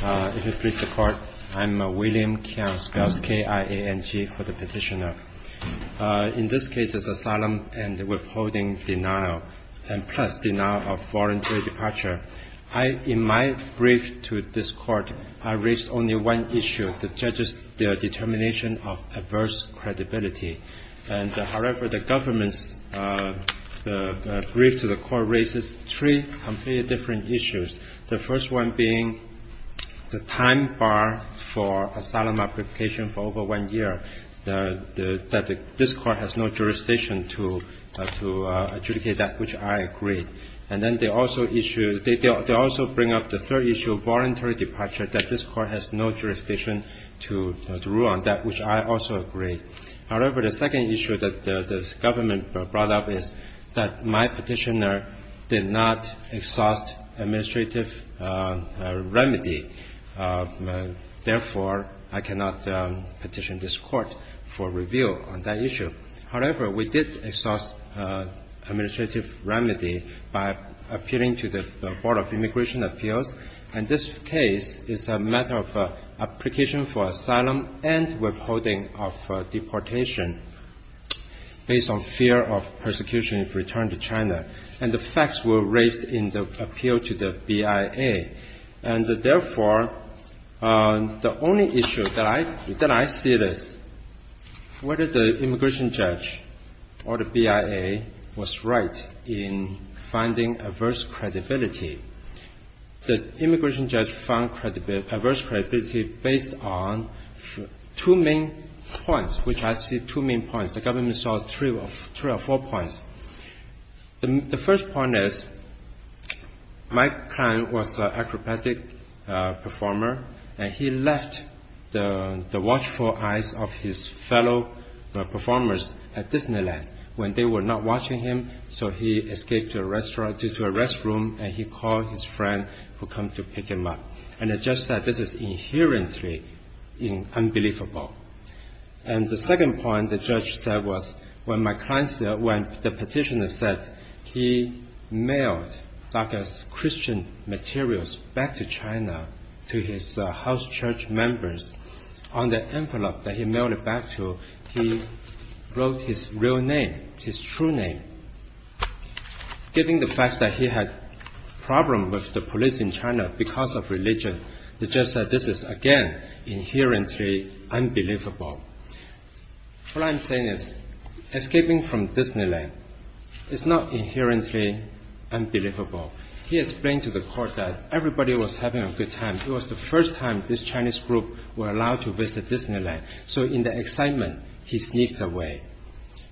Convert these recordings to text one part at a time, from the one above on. If it pleases the Court, I am William Kiyosaki, IANG, for the petitioner. In this case, it's asylum and withholding denial, plus denial of voluntary departure. In my brief to this Court, I raised only one issue, the judge's determination of adverse credibility. However, the government's brief to the Court raises three completely different issues, the first one being the time bar for asylum application for over one year, that this Court has no jurisdiction to adjudicate that, which I agree. And then they also issue – they also bring up the third issue of voluntary departure, that this Court has no jurisdiction to rule on that, which I also agree. However, the second issue that the government brought up is that my petitioner did not exhaust administrative remedy, therefore, I cannot petition this Court for review on that issue. However, we did exhaust administrative remedy by appealing to the Board of Immigration Appeals, and this case is a matter of application for asylum and withholding of deportation based on fear of persecution if returned to China. And the facts were raised in the appeal to the BIA. And therefore, the only issue that I see is whether the immigration judge or the BIA was right in finding adverse credibility. The immigration judge found adverse credibility based on two main points, which I see two main points. The government saw three or four points. The first point is Mike Kline was an acrobatic performer, and he left the watchful eyes of his fellow performers at Disneyland when they were not watching him, so he escaped to a restroom, and he called his friend who came to pick him up. And the judge said this is inherently unbelievable. And the second point the judge said was, when the petitioner said he mailed DACA's Christian materials back to China to his house church members, on the envelope that he mailed it back to, he wrote his real name, his true name. Given the fact that he had problems with the police in China because of religion, the judge said this is, again, inherently unbelievable. What I'm saying is, escaping from Disneyland is not inherently unbelievable. He explained to the court that everybody was having a good time. It was the first time this Chinese group were allowed to visit Disneyland. So in the excitement, he sneaked away.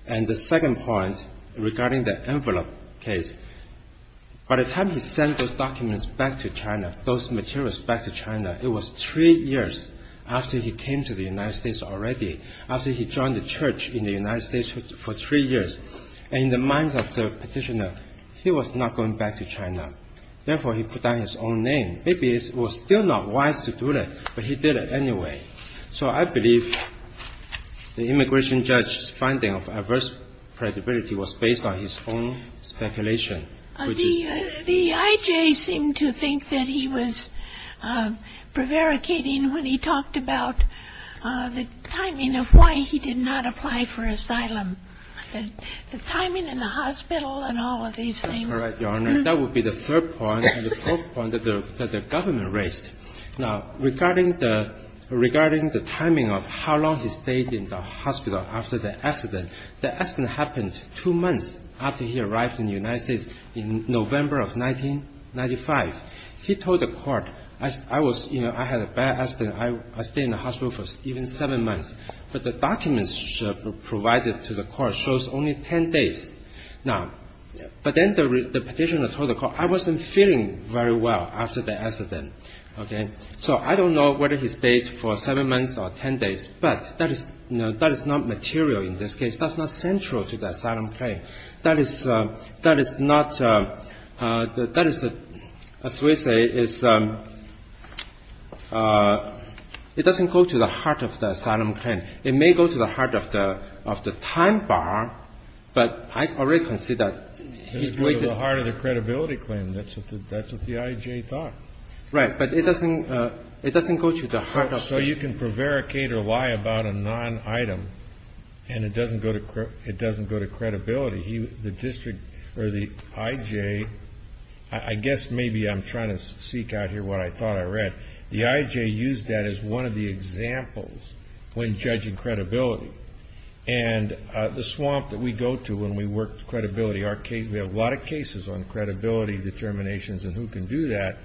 And the second point regarding the envelope case, by the time he sent those documents back to China, those materials back to China, it was three years after he came to the United States already, after he joined the church in the United States for three years. And in the minds of the petitioner, he was not going back to China. Therefore, he put down his own name. Maybe it was still not wise to do that, but he did it anyway. So I believe the immigration judge's finding of adverse credibility was based on his own speculation. The I.J. seemed to think that he was prevaricating when he talked about the timing of why he did not apply for asylum, the timing in the hospital and all of these things. That's correct, Your Honor. That would be the third point and the fourth point that the government raised. Now, regarding the timing of how long he stayed in the hospital after the accident, the accident happened two months after he arrived in the United States in November of 1995. He told the court, I had a bad accident. I stayed in the hospital for even seven months. But the documents provided to the court shows only 10 days. But then the petitioner told the court, I wasn't feeling very well after the accident. So I don't know whether he stayed for seven months or 10 days, but that is not material in this case. That's not central to the asylum claim. That is not, that is, as we say, it doesn't go to the heart of the asylum claim. It may go to the heart of the time bar, but I already can see that he waited. It would go to the heart of the credibility claim. That's what the I.J. thought. Right. But it doesn't go to the heart of the claim. So you can prevaricate or lie about a non-item, and it doesn't go to credibility. The district, or the I.J. I guess maybe I'm trying to seek out here what I thought I read. The I.J. used that as one of the examples when judging credibility. And the swamp that we go to when we work credibility, we have a lot of cases on credibility determinations and who can do that.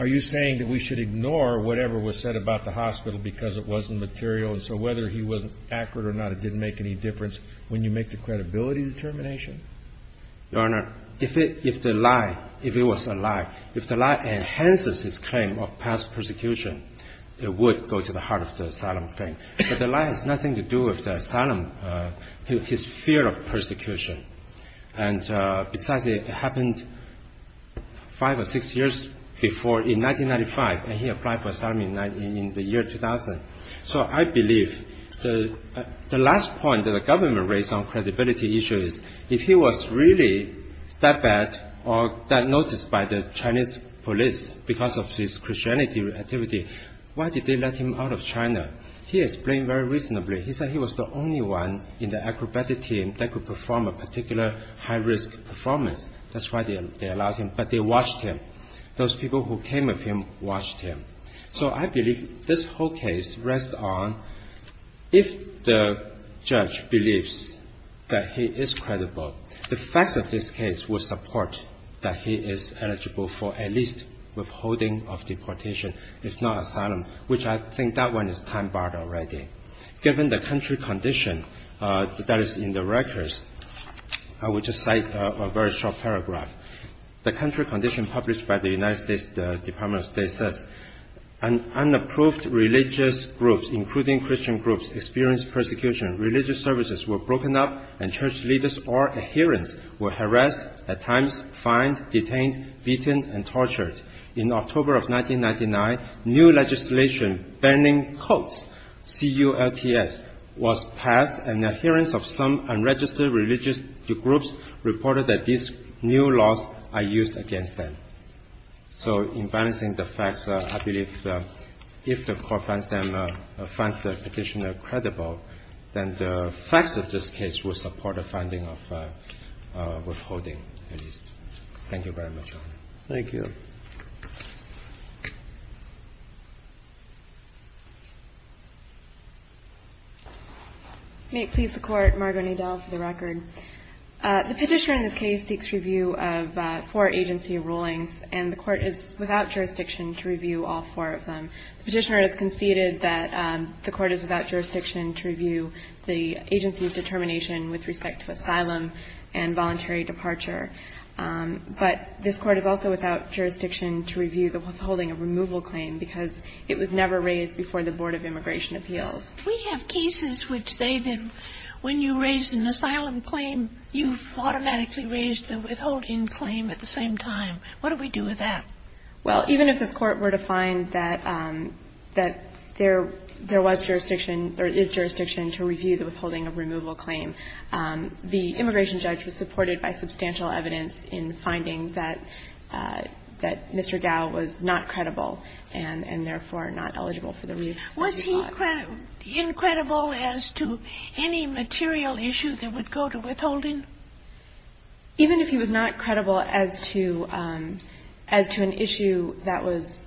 Are you saying that we should ignore whatever was said about the hospital because it wasn't material, and so whether he was accurate or not, it didn't make any difference when you make the credibility determination? Your Honor, if the lie, if it was a lie, if the lie enhances his claim of past persecution, it would go to the heart of the asylum claim. But the lie has nothing to do with the asylum, his fear of persecution. And besides, it happened five or six years before in 1995, and he applied for asylum in the year 2000. So I believe the last point that the government raised on credibility issues, if he was really that bad or that noticed by the Chinese police because of his Christianity activity, why did they let him out of China? He explained very reasonably. He said he was the only one in the acrobatic team that could perform a particular high-risk performance. That's why they allowed him. But they watched him. Those people who came with him watched him. So I believe this whole case rests on if the judge believes that he is credible, the facts of this case will support that he is eligible for at least withholding of deportation, if not asylum, which I think that one is time-barred already. Given the country condition that is in the records, I will just cite a very short paragraph. The country condition published by the United States Department of State says, unapproved religious groups, including Christian groups, experienced persecution, religious services were broken up, and church leaders or adherents were harassed, at times fined, detained, beaten, and tortured. In October of 1999, new legislation banning cults, c-u-l-t-s, was passed, and adherents of some unregistered religious groups reported that these new laws are used against them. So in balancing the facts, I believe if the court finds the petitioner credible, then the facts of this case will support a finding of withholding, at least. Thank you very much, Your Honor. Thank you. Margo Nadell. The petitioner in this case seeks review of four agency rulings, and the court is without jurisdiction to review all four of them. The petitioner has conceded that the court is without jurisdiction to review the agency's determination with respect to asylum and voluntary departure. But this court is also without jurisdiction to review the withholding of removal claim, because it was never raised before the Board of Immigration Appeals. We have cases which say that when you raise an asylum claim, you've automatically raised the withholding claim at the same time. What do we do with that? Well, even if this Court were to find that there was jurisdiction or is jurisdiction to review the withholding of removal claim, the immigration judge was supported by substantial evidence in finding that Mr. Gao was not credible and therefore not eligible for the review. Was he incredible as to any material issue that would go to withholding? Even if he was not credible as to an issue that was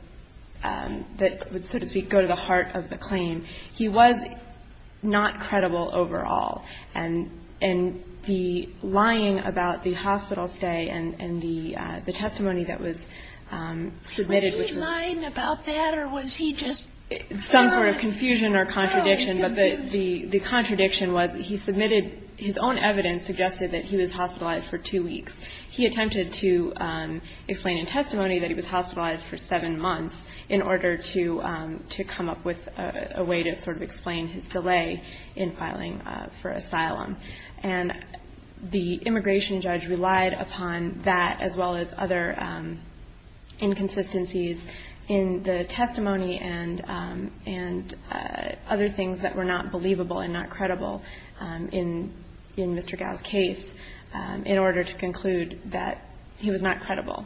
so to speak go to the heart of the claim, he was not credible overall. And the lying about the hospital stay and the testimony that was submitted, which was – Was he lying about that, or was he just – Some sort of confusion or contradiction, but the contradiction was he submitted – his own evidence suggested that he was hospitalized for two weeks. He attempted to explain in testimony that he was hospitalized for seven months in order to come up with a way to sort of explain his delay in filing for asylum. And the immigration judge relied upon that as well as other inconsistencies in the testimony and other things that were not believable and not credible in Mr. Gao's case in order to conclude that he was not credible.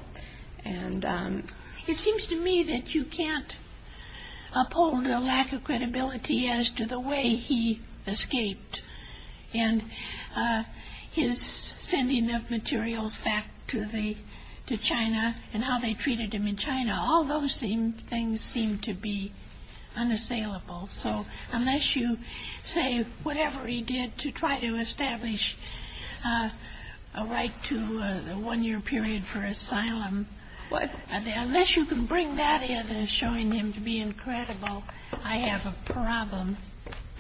It seems to me that you can't uphold a lack of credibility as to the way he escaped and his sending of materials back to China and how they treated him in China. All those things seem to be unassailable. So unless you say whatever he did to try to establish a right to a one-year period for asylum, unless you can bring that in as showing him to be incredible, I have a problem.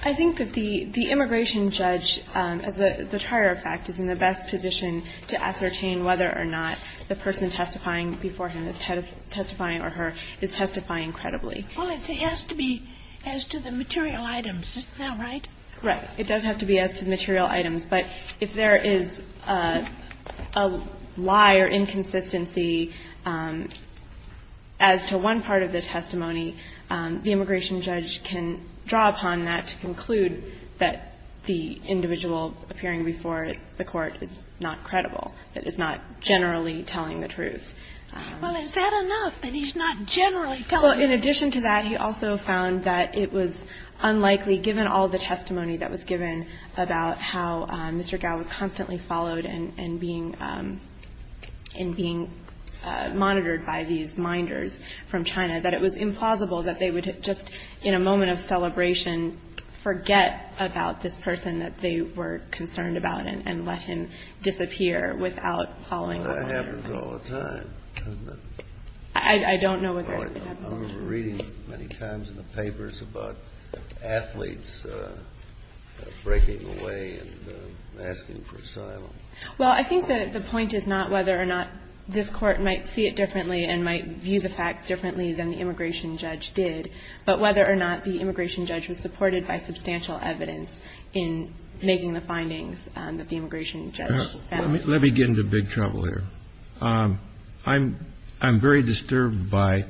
I think that the immigration judge, as the prior fact, is in the best position to ascertain whether or not the person testifying before him is testifying or her is testifying credibly. Well, it has to be as to the material items. Isn't that right? Right. It does have to be as to the material items. But if there is a lie or inconsistency as to one part of the testimony, the immigration judge can draw upon that to conclude that the individual appearing before the Court is not credible, that is not generally telling the truth. Well, is that enough that he's not generally telling the truth? Well, in addition to that, he also found that it was unlikely, given all the testimony that was given about how Mr. Gao was constantly followed and being monitored by these minders from China, that it was implausible that they would just, in a moment of celebration, forget about this person that they were concerned about and let him disappear without following up on it. That happens all the time, doesn't it? I don't know whether it happens all the time. I remember reading many times in the papers about athletes breaking away and asking for asylum. Well, I think that the point is not whether or not this Court might see it differently and might view the facts differently than the immigration judge did, but whether or not the immigration judge was supported by substantial evidence in making the findings that the immigration judge found. Let me get into big trouble here. I'm very disturbed by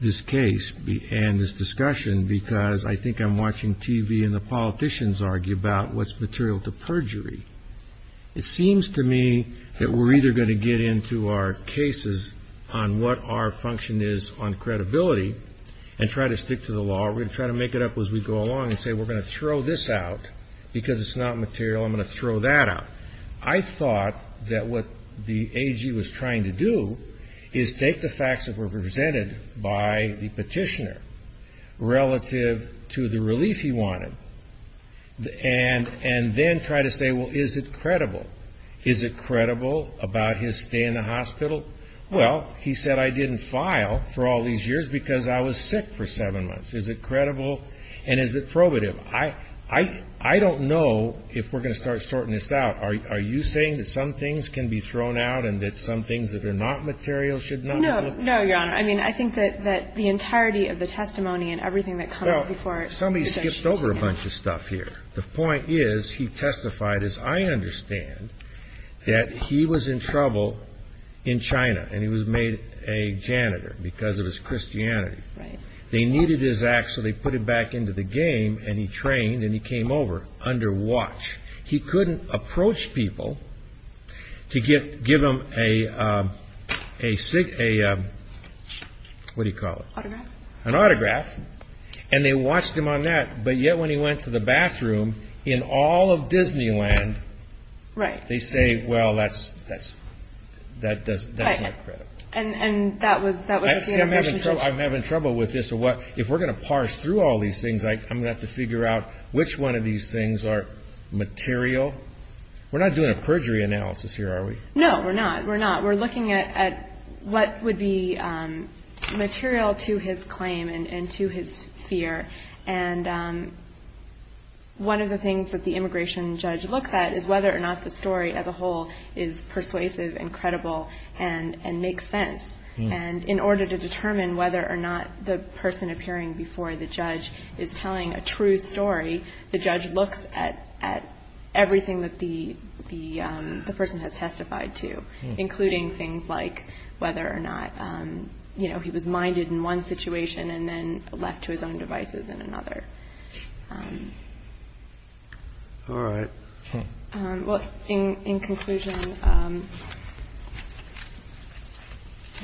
this case and this discussion because I think I'm watching TV and the politicians argue about what's material to perjury. It seems to me that we're either going to get into our cases on what our function is on credibility and try to stick to the law or we're going to try to make it up as we go along and say we're going to throw this out because it's not material, I'm going to throw that out. I thought that what the AG was trying to do is take the facts that were presented by the petitioner relative to the relief he wanted and then try to say, well, is it credible? Is it credible about his stay in the hospital? Well, he said I didn't file for all these years because I was sick for seven months. Is it credible and is it probative? I don't know if we're going to start sorting this out. Are you saying that some things can be thrown out and that some things that are not material should not be looked at? No, no, Your Honor. I mean, I think that the entirety of the testimony and everything that comes before it is a misunderstanding. Well, somebody skipped over a bunch of stuff here. The point is he testified, as I understand, that he was in trouble in China and he was made a janitor because of his Christianity. Right. They needed his act so they put it back into the game and he trained and he came over under watch. He couldn't approach people to give him a, what do you call it? Autograph. An autograph. And they watched him on that, but yet when he went to the bathroom in all of Disneyland, they say, well, that's not credible. I'm having trouble with this. If we're going to parse through all these things, I'm going to have to figure out which one of these things are material. We're not doing a perjury analysis here, are we? No, we're not. We're not. We're looking at what would be material to his claim and to his fear. And one of the things that the immigration judge looks at is whether or not the story as a whole is persuasive and credible and makes sense. And in order to determine whether or not the person appearing before the judge is telling a true story, the judge looks at everything that the person has testified to, including things like whether or not he was minded in one situation and then left to his own devices in another. All right. Okay. Well, in conclusion,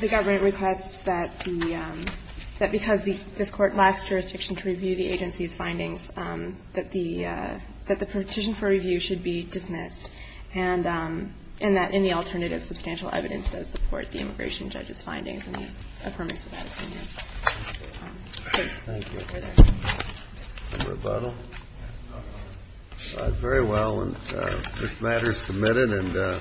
the government requests that because this Court lasts jurisdiction to review the agency's findings, that the petition for review should be dismissed and that any alternative substantial evidence does support the immigration judge's findings and the affirmance of that opinion. Thank you. No rebuttal? All right. Very well. This matter is submitted.